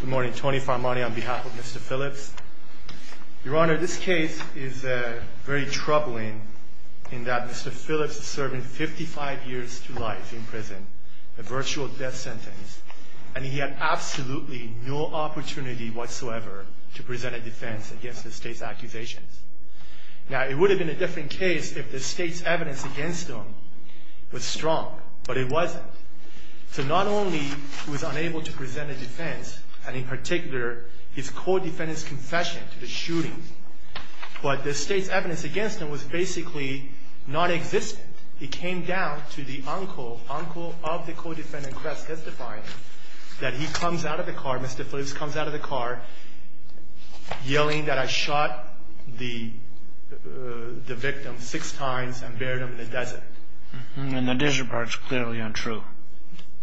Good morning, Tony Farmani on behalf of Mr. Phillips. Your Honor, this case is very troubling in that Mr. Phillips is serving 55 years to life in prison, a virtual death sentence, and he had absolutely no opportunity whatsoever to present a defense against the state's accusations. Now, it would have been a different case if the state's evidence against him was strong, but it wasn't. So not only was he unable to present a defense, and in particular his co-defendant's confession to the shooting, but the state's evidence against him was basically nonexistent. It came down to the uncle, uncle of the co-defendant, Kress, testifying that he comes out of the car, Mr. Phillips comes out of the car yelling that I shot the victim six times and buried him in the desert. And the desert part is clearly untrue.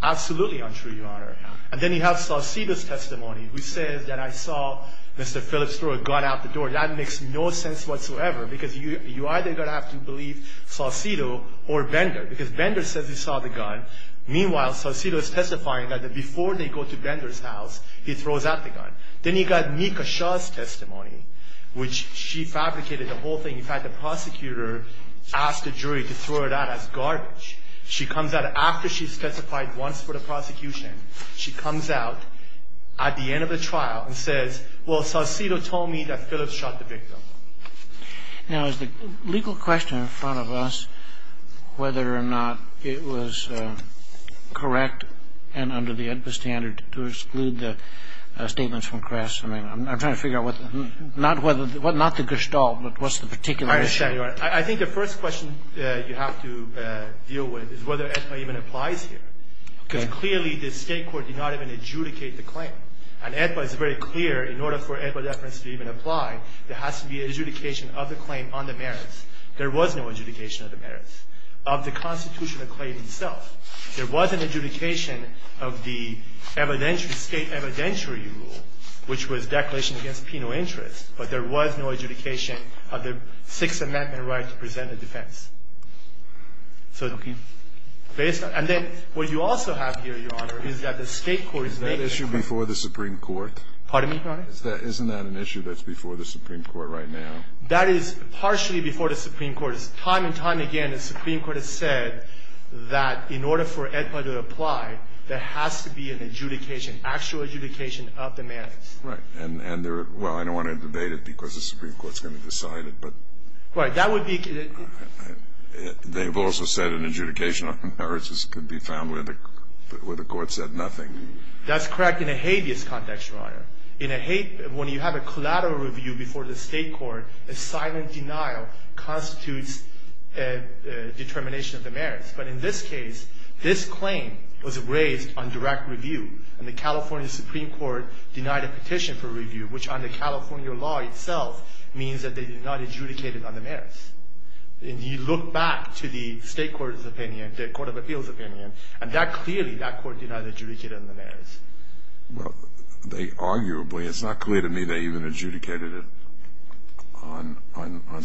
Absolutely untrue, Your Honor. And then you have Saucedo's testimony, who says that I saw Mr. Phillips throw a gun out the door. That makes no sense whatsoever, because you either are going to have to believe Saucedo or Bender, because Bender says he saw the gun. Meanwhile, Saucedo is testifying that before they go to Bender's house, he throws out the gun. Then you got Nika Shah's testimony, which she fabricated the whole thing. In fact, the prosecutor asked the jury to throw it out as garbage. She comes out after she's testified once for the prosecution. She comes out at the end of the trial and says, well, Saucedo told me that Phillips shot the victim. Now, is the legal question in front of us whether or not it was correct and under the AEDPA standard to exclude the statements from Kress? I mean, I'm trying to figure out what the ñ not whether ñ not the Gestalt, but what's the particular issue? I understand, Your Honor. I think the first question you have to deal with is whether AEDPA even applies here. Okay. Because clearly the State court did not even adjudicate the claim. And AEDPA is very clear, in order for AEDPA deference to even apply, there has to be adjudication of the claim on the merits. There was no adjudication of the merits. Of the constitutional claim itself, there was an adjudication of the evidentiary rule, which was declaration against penal interest, but there was no adjudication of the Sixth Amendment right to present a defense. Okay. So based on ñ and then what you also have here, Your Honor, is that the State court is making ñ Is that issue before the Supreme Court? Pardon me, Your Honor? Isn't that an issue that's before the Supreme Court right now? That is partially before the Supreme Court. It's time and time again the Supreme Court has said that in order for AEDPA to apply, there has to be an adjudication, actual adjudication of the merits. Right. And there are ñ well, I don't want to debate it because the Supreme Court's going to decide it, but ñ Right. That would be ñ They've also said an adjudication of the merits could be found where the court said nothing. That's correct in a habeas context, Your Honor. In a habeas ñ when you have a collateral review before the State court, a silent denial constitutes a determination of the merits. But in this case, this claim was raised on direct review, and the California Supreme Court denied a petition for review, which under California law itself means that they did not adjudicate it on the merits. And you look back to the State court's opinion, the Court of Appeals' opinion, and that clearly ñ that court did not adjudicate it on the merits. Well, they arguably ñ it's not clear to me they even adjudicated it on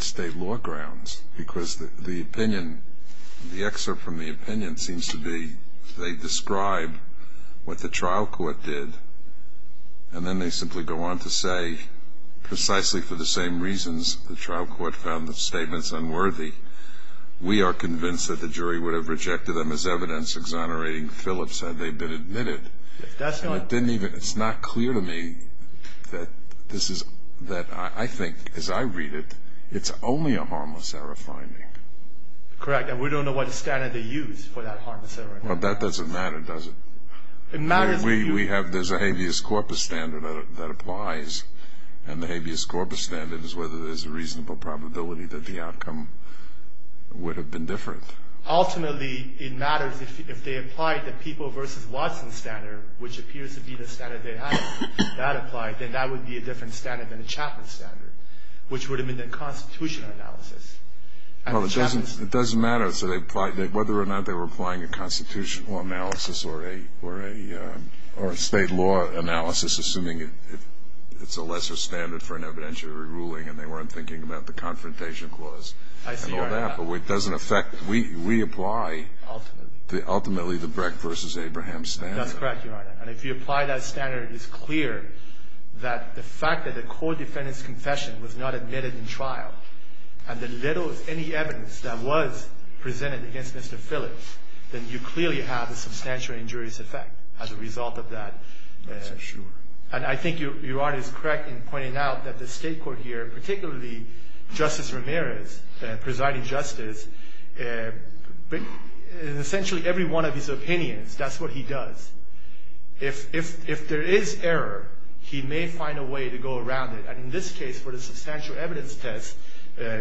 State law grounds because the opinion ñ the excerpt from the opinion seems to be they describe what the trial court did, and then they simply go on to say, precisely for the same reasons the trial court found the statements unworthy, we are convinced that the jury would have rejected them as evidence exonerating Phillips had they been admitted. That's not ñ And it didn't even ñ it's not clear to me that this is ñ that I think, as I read it, it's only a harmless error finding. Correct. And we don't know what standard they used for that harmless error. Well, that doesn't matter, does it? It matters if you ñ We have ñ there's a habeas corpus standard that applies, and the habeas corpus standard is whether there's a reasonable probability that the outcome would have been different. Ultimately, it matters if they applied the People v. Watson standard, which appears to be the standard they had that applied, then that would be a different standard than the Chapman standard, which would have been the constitutional analysis. Well, it doesn't ñ it doesn't matter whether or not they were applying a constitutional analysis or a ñ or a state law analysis, assuming it's a lesser standard for an evidentiary ruling and they weren't thinking about the Confrontation Clause and all that. I see where you're at. But it doesn't affect ñ we apply ultimately the Brecht v. Abraham standard. That's correct, Your Honor. And if you apply that standard, it's clear that the fact that the court defendant's confession was not admitted in trial, and the little ñ any evidence that was presented against Mr. Phillips, then you clearly have a substantial injurious effect as a result of that. That's for sure. And I think Your Honor is correct in pointing out that the State court here, particularly Justice Ramirez, presiding justice, in essentially every one of his opinions, that's what he does. If there is error, he may find a way to go around it. And in this case, for the substantial evidence test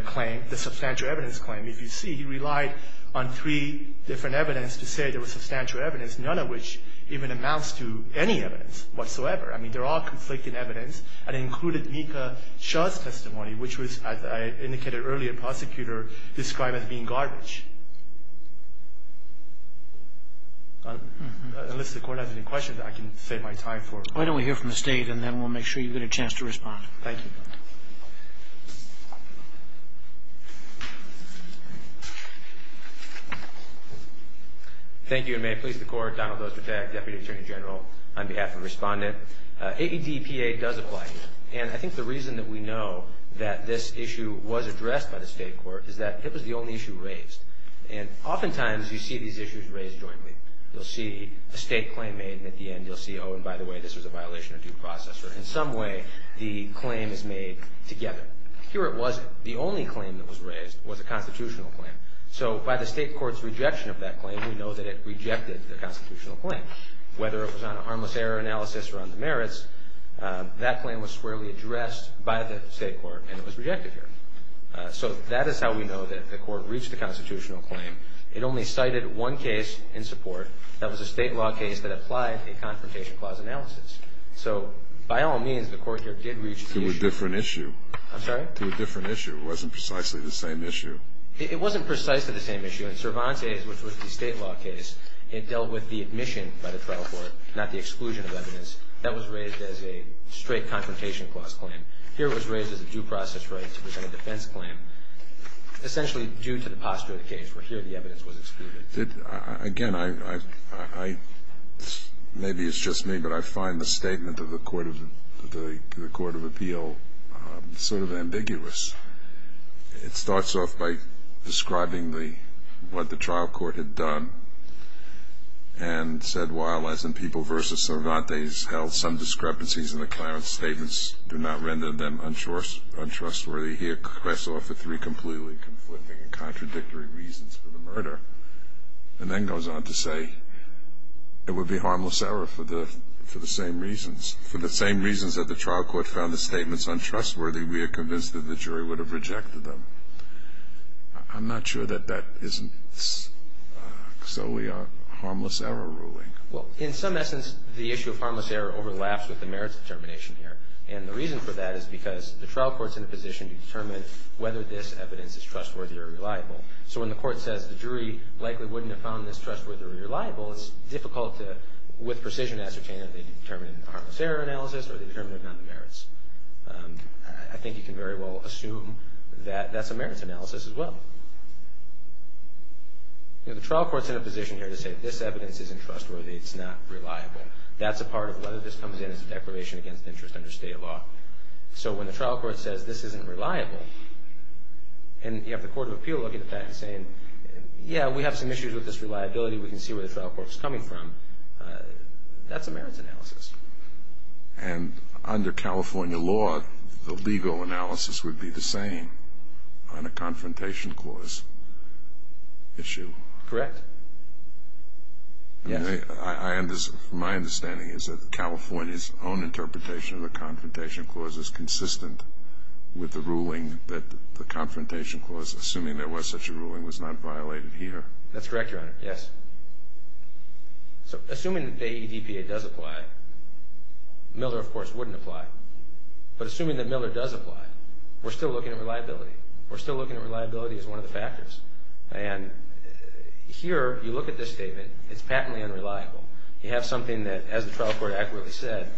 claim, the substantial evidence claim, if you see, he relied on three different evidence to say there was substantial evidence, none of which even amounts to any evidence whatsoever. I mean, they're all conflicting evidence. And it included Mika Shah's testimony, which was, as I indicated earlier, prosecutor described as being garbage. Unless the court has any questions, I can save my time for ñ Why don't we hear from the State, and then we'll make sure you get a chance to respond. Thank you. Thank you. And may it please the Court, Donald Ostertag, Deputy Attorney General, on behalf of the Respondent. AEDPA does apply here. And I think the reason that we know that this issue was addressed by the State court is that it was the only issue raised. And oftentimes, you see these issues raised jointly. You'll see a State claim made, and at the end, you'll see, oh, and by the way, this was a violation of due process. Or in some way, the claim is made together. Here it wasn't. The only claim that was raised was a constitutional claim. So by the State court's rejection of that claim, we know that it rejected the constitutional claim. Whether it was on a harmless error analysis or on the merits, that claim was squarely addressed by the State court, and it was rejected here. So that is how we know that the court reached a constitutional claim. It only cited one case in support. That was a State law case that applied a confrontation clause analysis. So by all means, the court here did reach the issue. To a different issue. I'm sorry? To a different issue. It wasn't precisely the same issue. It wasn't precisely the same issue. In Cervantes, which was the State law case, it dealt with the admission by the trial court, not the exclusion of evidence. That was raised as a straight confrontation clause claim. Here it was raised as a due process right to defend a defense claim, essentially due to the posture of the case, where here the evidence was excluded. Again, maybe it's just me, but I find the statement of the Court of Appeal sort of ambiguous. It starts off by describing what the trial court had done and said, while, as in People v. Cervantes, held some discrepancies in the Clarence statements, do not render them untrustworthy. Here Crest offered three completely conflicting and contradictory reasons for the murder and then goes on to say it would be harmless error for the same reasons. For the same reasons that the trial court found the statements untrustworthy, we are convinced that the jury would have rejected them. I'm not sure that that isn't so. We are harmless error ruling. Well, in some essence, the issue of harmless error overlaps with the merits determination here. And the reason for that is because the trial court is in a position to determine whether this evidence is trustworthy or reliable. So when the court says the jury likely wouldn't have found this trustworthy or reliable, it's difficult to, with precision, ascertain that they determined a harmless error analysis or they determined it on the merits. I think you can very well assume that that's a merits analysis as well. The trial court's in a position here to say this evidence isn't trustworthy, it's not reliable. That's a part of whether this comes in as a declaration against interest under state law. So when the trial court says this isn't reliable, and you have the court of appeal looking at that and saying, yeah, we have some issues with this reliability, we can see where the trial court's coming from, that's a merits analysis. And under California law, the legal analysis would be the same. On a confrontation clause issue. Correct. Yes. My understanding is that California's own interpretation of the confrontation clause is consistent with the ruling that the confrontation clause, assuming there was such a ruling, was not violated here. That's correct, Your Honor, yes. So assuming the AEDPA does apply, Miller, of course, wouldn't apply. But assuming that Miller does apply, we're still looking at reliability. We're still looking at reliability as one of the factors. And here, you look at this statement, it's patently unreliable. You have something that, as the trial court accurately said,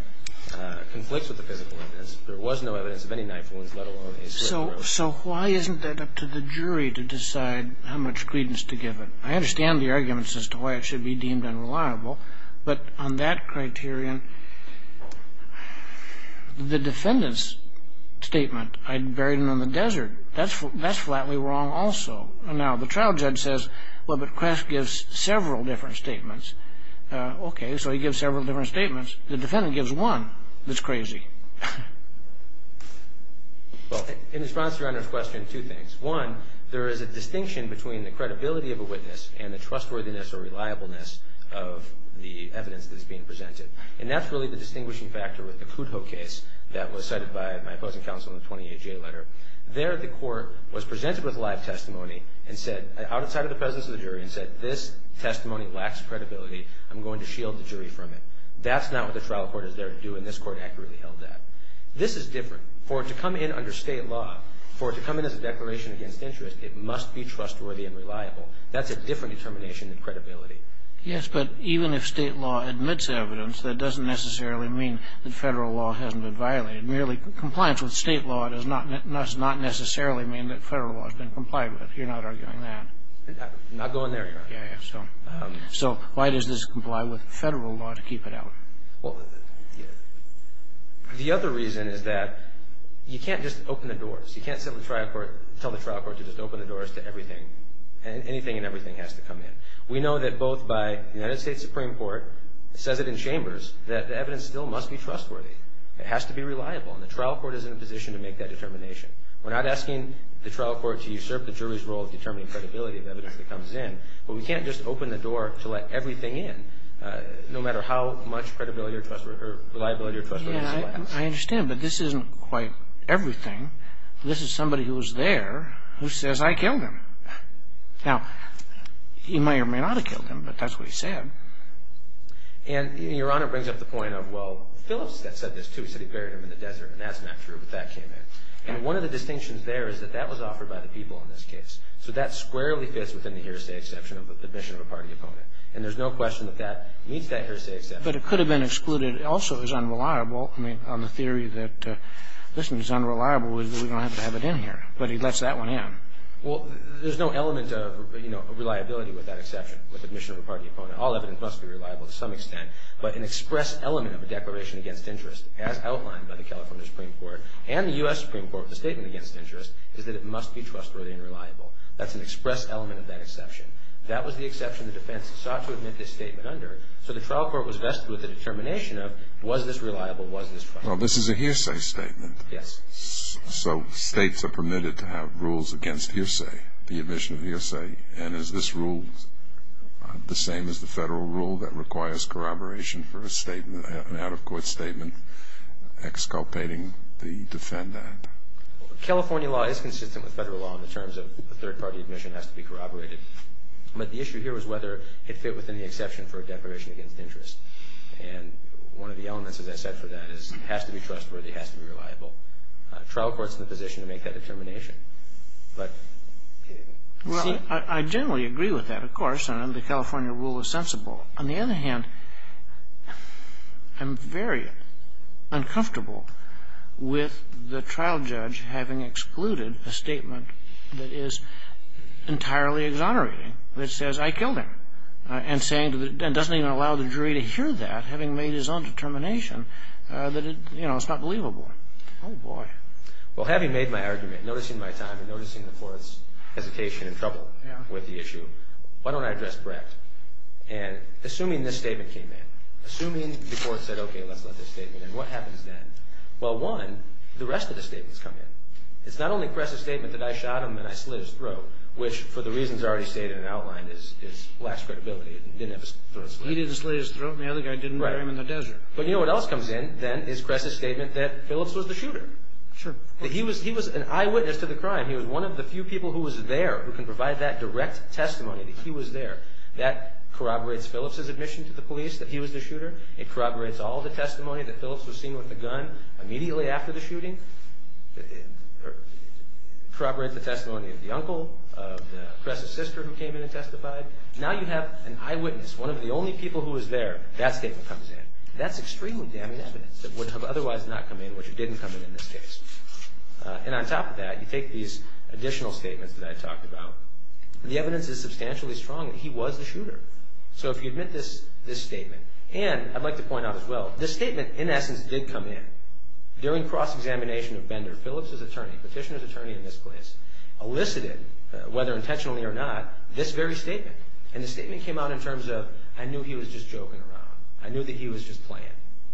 conflicts with the physical evidence. There was no evidence of any knifelings, let alone a slip of the wrist. So why isn't that up to the jury to decide how much credence to give it? I understand the arguments as to why it should be deemed unreliable, but on that criterion, the defendant's statement, I buried him in the desert, that's flatly wrong also. Now, the trial judge says, well, but Quest gives several different statements. Okay, so he gives several different statements. The defendant gives one that's crazy. Well, in response to Your Honor's question, two things. One, there is a distinction between the credibility of a witness and the trustworthiness or reliableness of the evidence that is being presented. And that's really the distinguishing factor with the Kudjo case that was cited by my opposing counsel in the 28-J letter. There, the court was presented with live testimony outside of the presence of the jury and said, this testimony lacks credibility. I'm going to shield the jury from it. That's not what the trial court is there to do, and this court accurately held that. This is different. For it to come in under state law, for it to come in as a declaration against interest, it must be trustworthy and reliable. That's a different determination than credibility. Yes, but even if state law admits evidence, that doesn't necessarily mean that federal law hasn't been violated. Really, compliance with state law does not necessarily mean that federal law has been complied with. You're not arguing that. I'm not going there, Your Honor. Yeah, yeah. So why does this comply with federal law to keep it out? Well, the other reason is that you can't just open the doors. You can't tell the trial court to just open the doors to everything. Anything and everything has to come in. We know that both by the United States Supreme Court, says it in Chambers, that the evidence still must be trustworthy. It has to be reliable, and the trial court is in a position to make that determination. We're not asking the trial court to usurp the jury's role of determining credibility of evidence that comes in, but we can't just open the door to let everything in, no matter how much reliability or trustworthiness it has. Yeah, I understand, but this isn't quite everything. This is somebody who was there who says, I killed him. Now, he may or may not have killed him, but that's what he said. And Your Honor brings up the point of, well, Phillips said this, too. He said he buried him in the desert, and that's not true, but that came in. And one of the distinctions there is that that was offered by the people in this case. So that squarely fits within the hearsay exception of the admission of a party opponent, and there's no question that that meets that hearsay exception. But it could have been excluded. But it also is unreliable, I mean, on the theory that, listen, it's unreliable, we don't have to have it in here, but he lets that one in. Well, there's no element of, you know, reliability with that exception, with admission of a party opponent. All evidence must be reliable to some extent, but an express element of a declaration against interest, as outlined by the California Supreme Court and the U.S. Supreme Court with the statement against interest, is that it must be trustworthy and reliable. That's an express element of that exception. That was the exception the defense sought to admit this statement under, so the trial court was vested with the determination of, was this reliable, was this trustworthy. Well, this is a hearsay statement. Yes. So states are permitted to have rules against hearsay, the admission of hearsay, and is this rule the same as the federal rule that requires corroboration for a statement, an out-of-court statement, exculpating the defendant? California law is consistent with federal law in the terms of the third-party admission has to be corroborated. But the issue here was whether it fit within the exception for a declaration against interest. And one of the elements, as I said, for that is it has to be trustworthy, it has to be reliable. Trial court's in a position to make that determination. But, you see. Well, I generally agree with that, of course, and the California rule is sensible. On the other hand, I'm very uncomfortable with the trial judge having excluded a statement that is entirely exonerating, that says, I killed him, and doesn't even allow the jury to hear that, having made his own determination, that it's not believable. Oh, boy. Well, having made my argument, noticing my time and noticing the court's hesitation and trouble with the issue, why don't I address Brett? And assuming this statement came in, assuming the court said, okay, let's let this statement in, what happens then? Well, one, the rest of the statements come in. It's not only Kress' statement that I shot him and I slit his throat, which, for the reasons already stated and outlined, lacks credibility. He didn't slit his throat. He didn't slit his throat. The other guy didn't bury him in the desert. Right. But you know what else comes in, then, is Kress' statement that Phillips was the shooter. Sure. He was an eyewitness to the crime. He was one of the few people who was there who can provide that direct testimony that he was there. That corroborates Phillips' admission to the police that he was the shooter. It corroborates all the testimony that Phillips was seen with a gun immediately after the shooting. It corroborates the testimony of the uncle, of the Kress' sister who came in and testified. Now you have an eyewitness, one of the only people who was there. That statement comes in. That's extremely damning evidence that would have otherwise not come in, which it didn't come in in this case. And on top of that, you take these additional statements that I talked about. The evidence is substantially strong that he was the shooter. So if you admit this statement, and I'd like to point out as well, this statement, in essence, did come in. During cross-examination of Bender, Phillips' attorney, petitioner's attorney in this case, elicited, whether intentionally or not, this very statement. And the statement came out in terms of, I knew he was just joking around. I knew that he was just playing,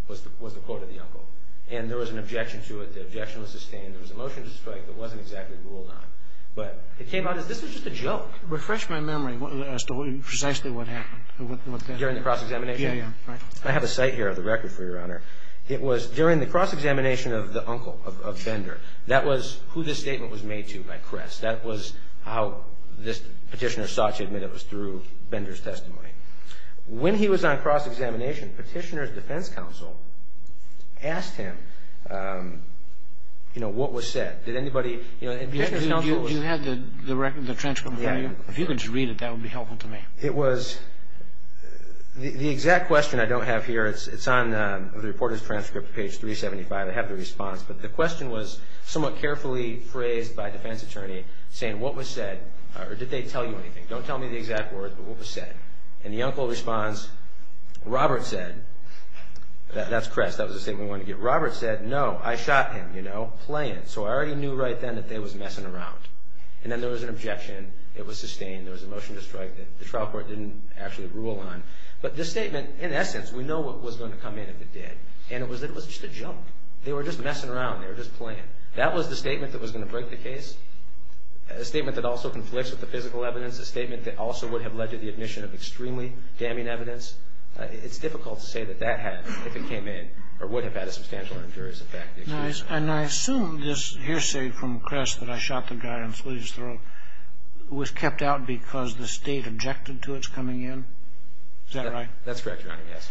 was the quote of the uncle. And there was an objection to it. The objection was sustained. There was a motion to strike that wasn't exactly ruled on. But it came out as this was just a joke. Refresh my memory as to precisely what happened. During the cross-examination? Yeah, yeah. I have a cite here of the record for Your Honor. It was during the cross-examination of the uncle, of Bender. That was who this statement was made to by Kress. That was how this petitioner sought to admit it was through Bender's testimony. When he was on cross-examination, Petitioner's defense counsel asked him, you know, what was said. Did anybody, you know, Petitioner's counsel was... You had the record, the transcript? Yeah. If you could just read it, that would be helpful to me. It was, the exact question I don't have here, it's on the reporter's transcript, page 375. I have the response. But the question was somewhat carefully phrased by defense attorney, saying what was said, or did they tell you anything. Don't tell me the exact words, but what was said. And the uncle responds, Robert said... That's Kress, that was the statement we wanted to get. Robert said, no, I shot him, you know, playing. So I already knew right then that they was messing around. And then there was an objection. It was sustained. There was a motion to strike that the trial court didn't actually rule on. But this statement, in essence, we know what was going to come in if it did. And it was just a joke. They were just messing around. They were just playing. That was the statement that was going to break the case. A statement that also conflicts with the physical evidence, a statement that also would have led to the admission of extremely damning evidence. It's difficult to say that that had, if it came in, or would have had a substantial or injurious effect. And I assume this hearsay from Kress that I shot the guy and slit his throat was kept out because the state objected to its coming in. Is that right? That's correct, Your Honor, yes.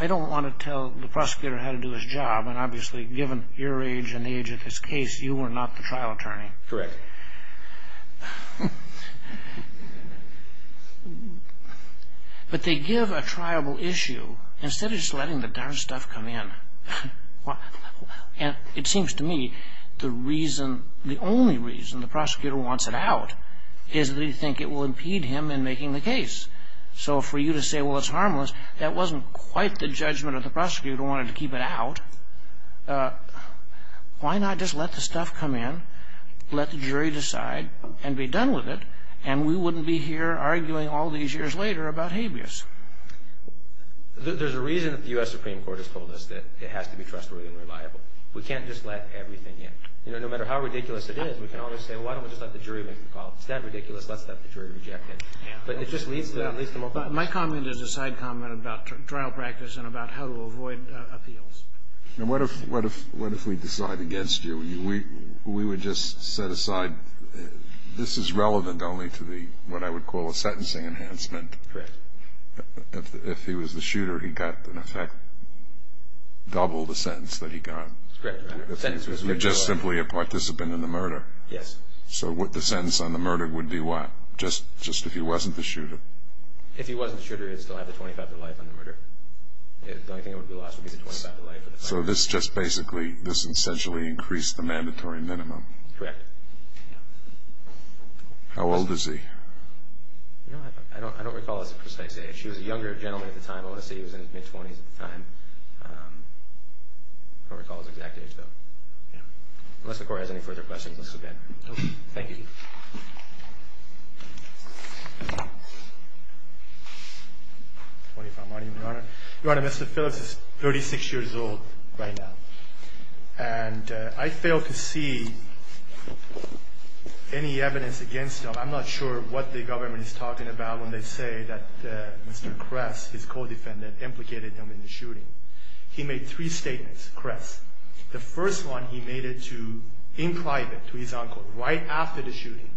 I don't want to tell the prosecutor how to do his job. And obviously, given your age and the age of this case, you were not the trial attorney. Correct. But they give a triable issue instead of just letting the darn stuff come in. And it seems to me the reason, the only reason the prosecutor wants it out is that they think it will impede him in making the case. So for you to say, well, it's harmless, that wasn't quite the judgment of the prosecutor who wanted to keep it out. Why not just let the stuff come in, let the jury decide, and be done with it, and we wouldn't be here arguing all these years later about habeas? There's a reason that the U.S. Supreme Court has told us that it has to be trustworthy and reliable. We can't just let everything in. You know, no matter how ridiculous it is, we can always say, well, why don't we just let the jury make the call? If it's that ridiculous, let's let the jury reject it. But it just leads to more questions. My comment is a side comment about trial practice and about how to avoid appeals. And what if we decide against you? We would just set aside, this is relevant only to what I would call a sentencing enhancement. Correct. If he was the shooter, he got, in effect, double the sentence that he got. Correct, Your Honor. If he was just simply a participant in the murder. Yes. If he wasn't the shooter, he would still have the 25 to life on the murder. The only thing that would be lost would be the 25 to life. So this just basically, this essentially increased the mandatory minimum. Correct. How old is he? I don't recall his precise age. He was a younger gentleman at the time. I want to say he was in his mid-20s at the time. I don't recall his exact age, though. Unless the Court has any further questions, let's go ahead. Thank you. Your Honor, Mr. Phillips is 36 years old right now. And I failed to see any evidence against him. I'm not sure what the government is talking about when they say that Mr. Kress, his co-defendant, implicated him in the shooting. He made three statements, Kress. The first one, he made it to, in private, to his uncle, right after the shooting.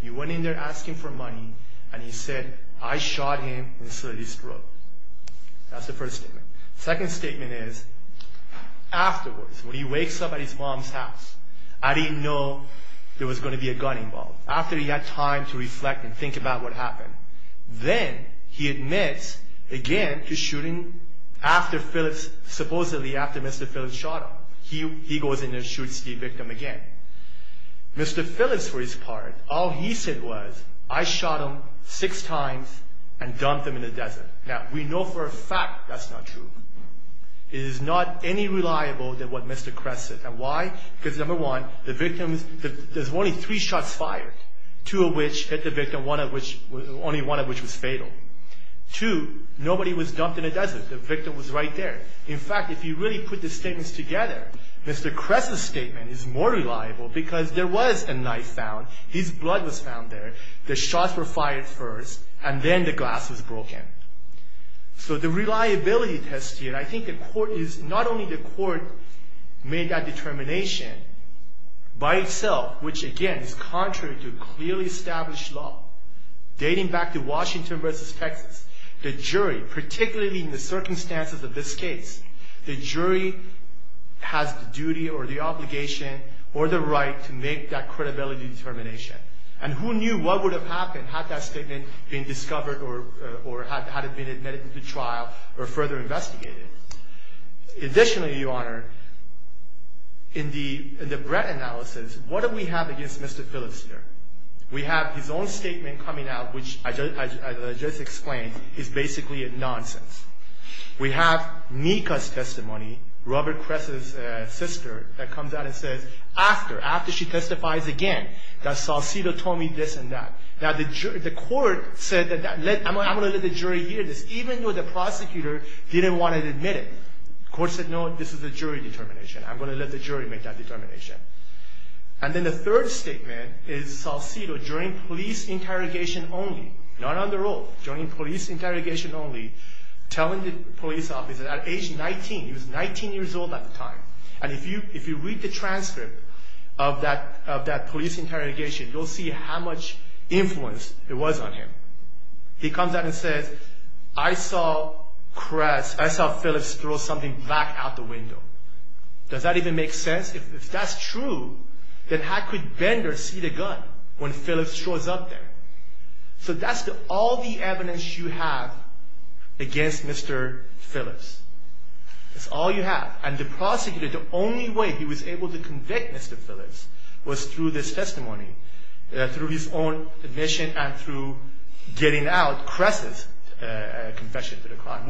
He went in there asking for money, and he said, I shot him and slit his throat. That's the first statement. The second statement is, afterwards, when he wakes up at his mom's house, I didn't know there was going to be a gun involved. After he had time to reflect and think about what happened, then he admits again to shooting after Phillips, supposedly after Mr. Phillips shot him. He goes in and shoots the victim again. Mr. Phillips, for his part, all he said was, I shot him six times and dumped him in the desert. Now, we know for a fact that's not true. It is not any reliable than what Mr. Kress said. And why? Because, number one, the victim, there's only three shots fired. Two of which hit the victim, only one of which was fatal. Two, nobody was dumped in the desert. The victim was right there. In fact, if you really put the statements together, Mr. Kress' statement is more reliable because there was a knife found, his blood was found there, the shots were fired first, and then the glass was broken. So the reliability test here, I think the court is, not only the court made that determination by itself, which, again, is contrary to clearly established law, dating back to Washington v. Texas, the jury, particularly in the circumstances of this case, the jury has the duty or the obligation or the right to make that credibility determination. And who knew what would have happened had that statement been discovered or had it been admitted to trial or further investigated. Additionally, Your Honor, in the Brett analysis, what do we have against Mr. Phillips here? We have his own statement coming out, which, as I just explained, is basically nonsense. We have Nika's testimony, Robert Kress' sister, that comes out and says, after, after she testifies again, that Salcido told me this and that. Now the court said, I'm going to let the jury hear this, even though the prosecutor didn't want to admit it. The court said, no, this is a jury determination. I'm going to let the jury make that determination. And then the third statement is Salcido, during police interrogation only, not on the road, during police interrogation only, telling the police officer at age 19, he was 19 years old at the time, and if you read the transcript of that police interrogation, you'll see how much influence it was on him. He comes out and says, I saw Kress, I saw Phillips throw something back out the window. Does that even make sense? If that's true, then how could Bender see the gun when Phillips shows up there? So that's all the evidence you have against Mr. Phillips. That's all you have. And the prosecutor, the only way he was able to convict Mr. Phillips was through this testimony, through his own admission and through getting out Kress' confession to the crime,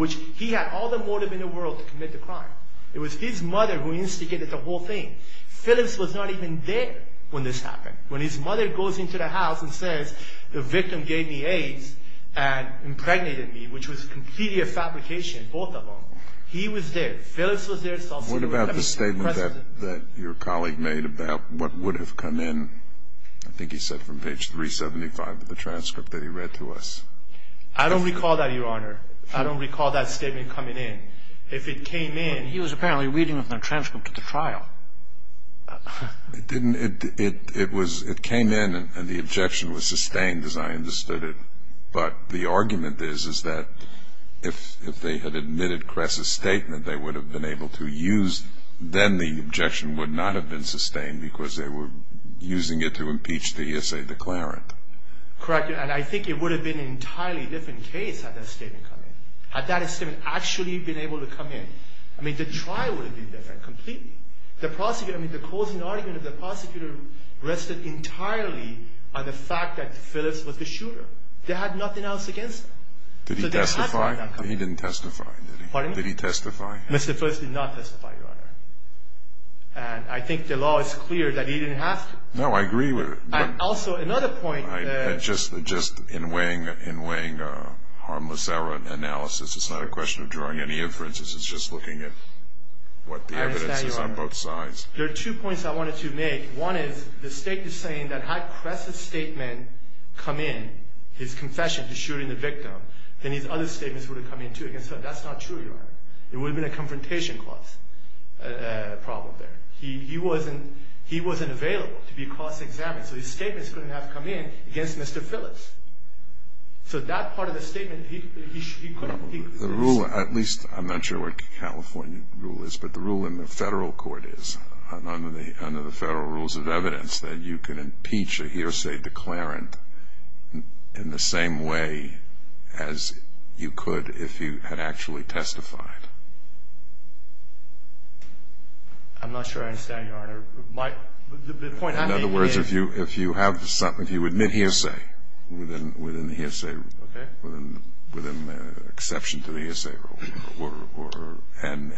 it was his mother who instigated the whole thing. Phillips was not even there when this happened. When his mother goes into the house and says, the victim gave me AIDS and impregnated me, which was completely a fabrication, both of them, he was there. Phillips was there, Salcido was there. What about the statement that your colleague made about what would have come in, I think he said from page 375 of the transcript that he read to us. I don't recall that, Your Honor. I don't recall that statement coming in. If it came in, he was apparently reading from the transcript of the trial. It came in and the objection was sustained as I understood it, but the argument is that if they had admitted Kress' statement, they would have been able to use then the objection would not have been sustained because they were using it to impeach the essay declarant. Correct. And I think it would have been an entirely different case had that statement come in. I mean, the trial would have been different completely. The prosecutor, I mean, the closing argument of the prosecutor rested entirely on the fact that Phillips was the shooter. They had nothing else against him. Did he testify? He didn't testify. Pardon me? Did he testify? Mr. Phillips did not testify, Your Honor. And I think the law is clear that he didn't have to. No, I agree with it. And also another point. Just in weighing harmless error analysis, it's not a question of drawing any inferences. It's just looking at what the evidence is on both sides. I understand, Your Honor. There are two points I wanted to make. One is the state is saying that had Kress' statement come in, his confession to shooting the victim, then his other statements would have come in too against him. That's not true, Your Honor. It would have been a confrontation clause problem there. He wasn't available to be cross-examined, so his statements couldn't have come in against Mr. Phillips. So that part of the statement, he couldn't. The rule, at least I'm not sure what California rule is, but the rule in the federal court is, under the federal rules of evidence, that you can impeach a hearsay declarant in the same way as you could if you had actually testified. I'm not sure I understand, Your Honor. The point I'm making is. In other words, if you admit hearsay within the hearsay rule, with an exception to the hearsay rule, then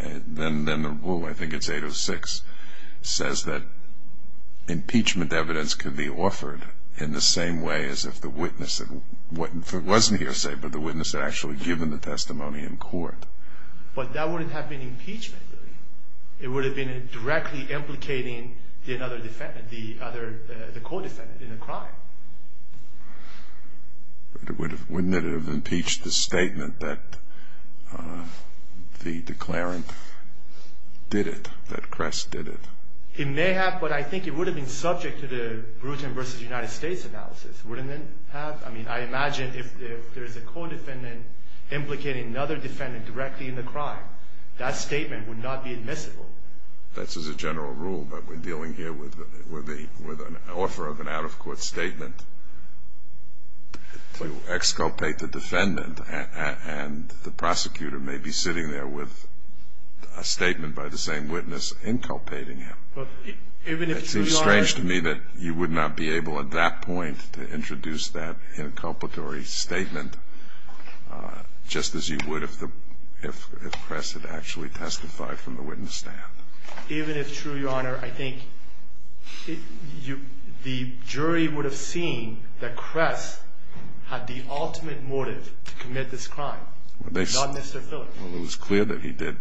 the rule, I think it's 806, says that impeachment evidence can be offered in the same way as if the witness, if it wasn't hearsay but the witness had actually given the testimony in court. But that wouldn't have been impeachment, really. It would have been directly implicating another defendant, the co-defendant in the crime. But wouldn't it have impeached the statement that the declarant did it, that Kress did it? It may have, but I think it would have been subject to the Bruton v. United States analysis. Wouldn't it have? I mean, I imagine if there's a co-defendant implicating another defendant directly in the crime, that statement would not be admissible. That's as a general rule, but we're dealing here with an offer of an out-of-court statement to exculpate the defendant, and the prosecutor may be sitting there with a statement by the same witness inculpating him. It seems strange to me that you would not be able at that point to introduce that inculpatory statement, just as you would if Kress had actually testified from the witness stand. Even if true, Your Honor, I think the jury would have seen that Kress had the ultimate motive to commit this crime, not Mr. Phillips. Well, it was clear that he did.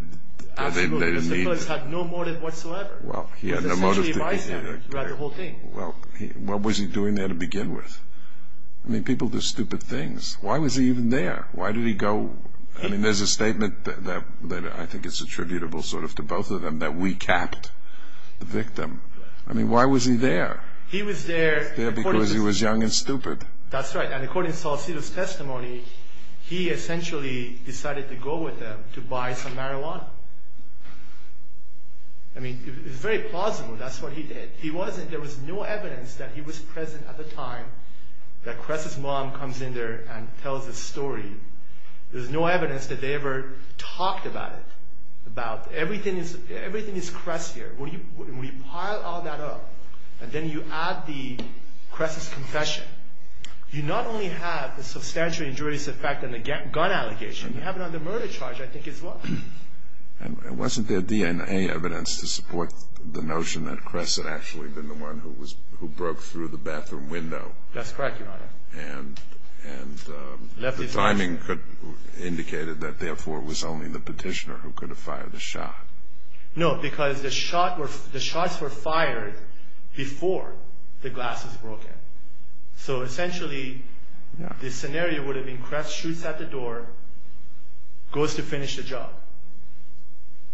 Absolutely. Mr. Phillips had no motive whatsoever. Well, he had no motive. He essentially advised him throughout the whole thing. Well, what was he doing there to begin with? I mean, people do stupid things. Why was he even there? Why did he go? I mean, there's a statement that I think is attributable sort of to both of them, that we capped the victim. I mean, why was he there? He was there because he was young and stupid. That's right, and according to Salcido's testimony, he essentially decided to go with them to buy some marijuana. I mean, it's very plausible that's what he did. There was no evidence that he was present at the time that Kress's mom comes in there and tells this story. There's no evidence that they ever talked about it, about everything is Kress here. When you pile all that up and then you add Kress's confession, you not only have the substantial injurious effect and the gun allegation, you have it on the murder charge, I think, as well. And wasn't there DNA evidence to support the notion that Kress had actually been the one who broke through the bathroom window? That's correct, Your Honor. And the timing indicated that, therefore, it was only the petitioner who could have fired the shot. No, because the shots were fired before the glass was broken. So essentially, the scenario would have been Kress shoots at the door, goes to finish the job.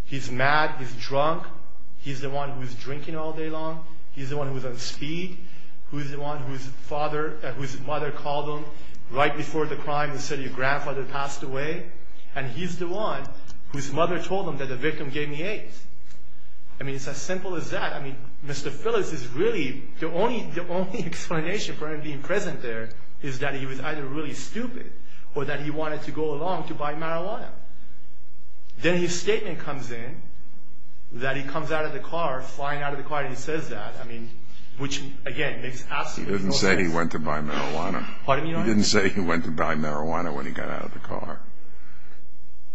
He's mad, he's drunk, he's the one who's drinking all day long, he's the one who's on speed, who's the one whose mother called him right before the crime and said your grandfather passed away, and he's the one whose mother told him that the victim gave me AIDS. I mean, it's as simple as that. I mean, Mr. Phillips is really, the only explanation for him being present there is that he was either really stupid or that he wanted to go along to buy marijuana. Then his statement comes in that he comes out of the car, flying out of the car, and he says that. I mean, which, again, makes absolutely no sense. He didn't say he went to buy marijuana. Pardon me, Your Honor? He didn't say he went to buy marijuana when he got out of the car.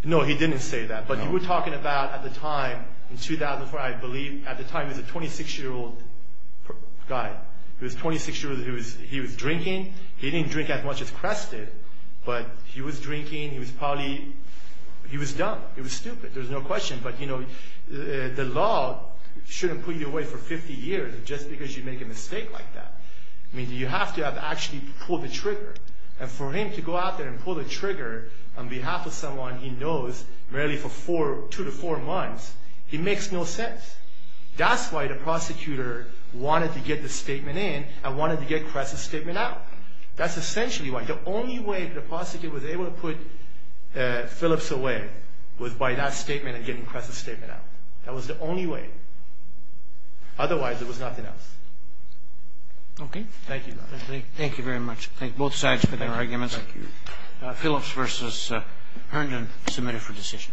No, he didn't say that. But you were talking about, at the time, in 2004, I believe, at the time he was a 26-year-old guy. He was a 26-year-old. He was drinking. He didn't drink as much as Kress did, but he was drinking. He was probably, he was dumb. He was stupid. There's no question. But, you know, the law shouldn't put you away for 50 years just because you make a mistake like that. I mean, you have to have actually pulled the trigger. And for him to go out there and pull the trigger on behalf of someone he knows merely for two to four months, it makes no sense. That's why the prosecutor wanted to get the statement in and wanted to get Kress's statement out. That's essentially why. The only way the prosecutor was able to put Phillips away was by that statement and getting Kress's statement out. That was the only way. Otherwise, there was nothing else. Okay. Thank you. Thank you very much. Thank both sides for their arguments. Thank you. Phillips versus Herndon, submitted for decision.